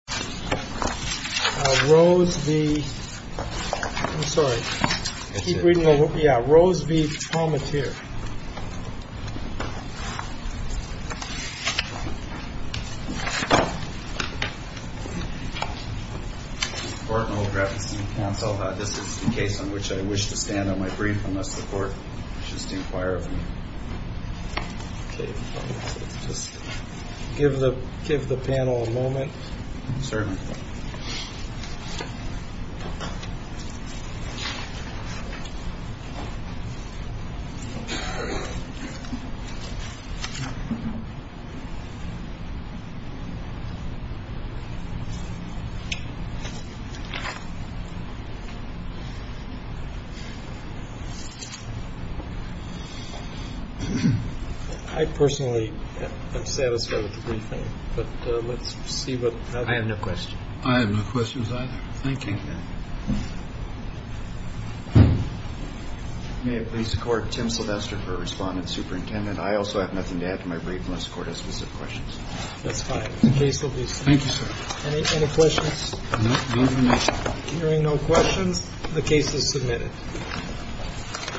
This is the case on which I wish to stand on my brief unless the court wishes to inquire of me. Just give the give the panel a moment. Sir. I personally am satisfied with the briefing. But let's see what I have no question. I have no questions either. Thank you. May it please the court. Tim Sylvester for respondent superintendent. I also have nothing to add to my brief unless the court has specific questions. That's fine. The case will be submitted. Thank you, sir. Any questions? Hearing no questions, the case is submitted.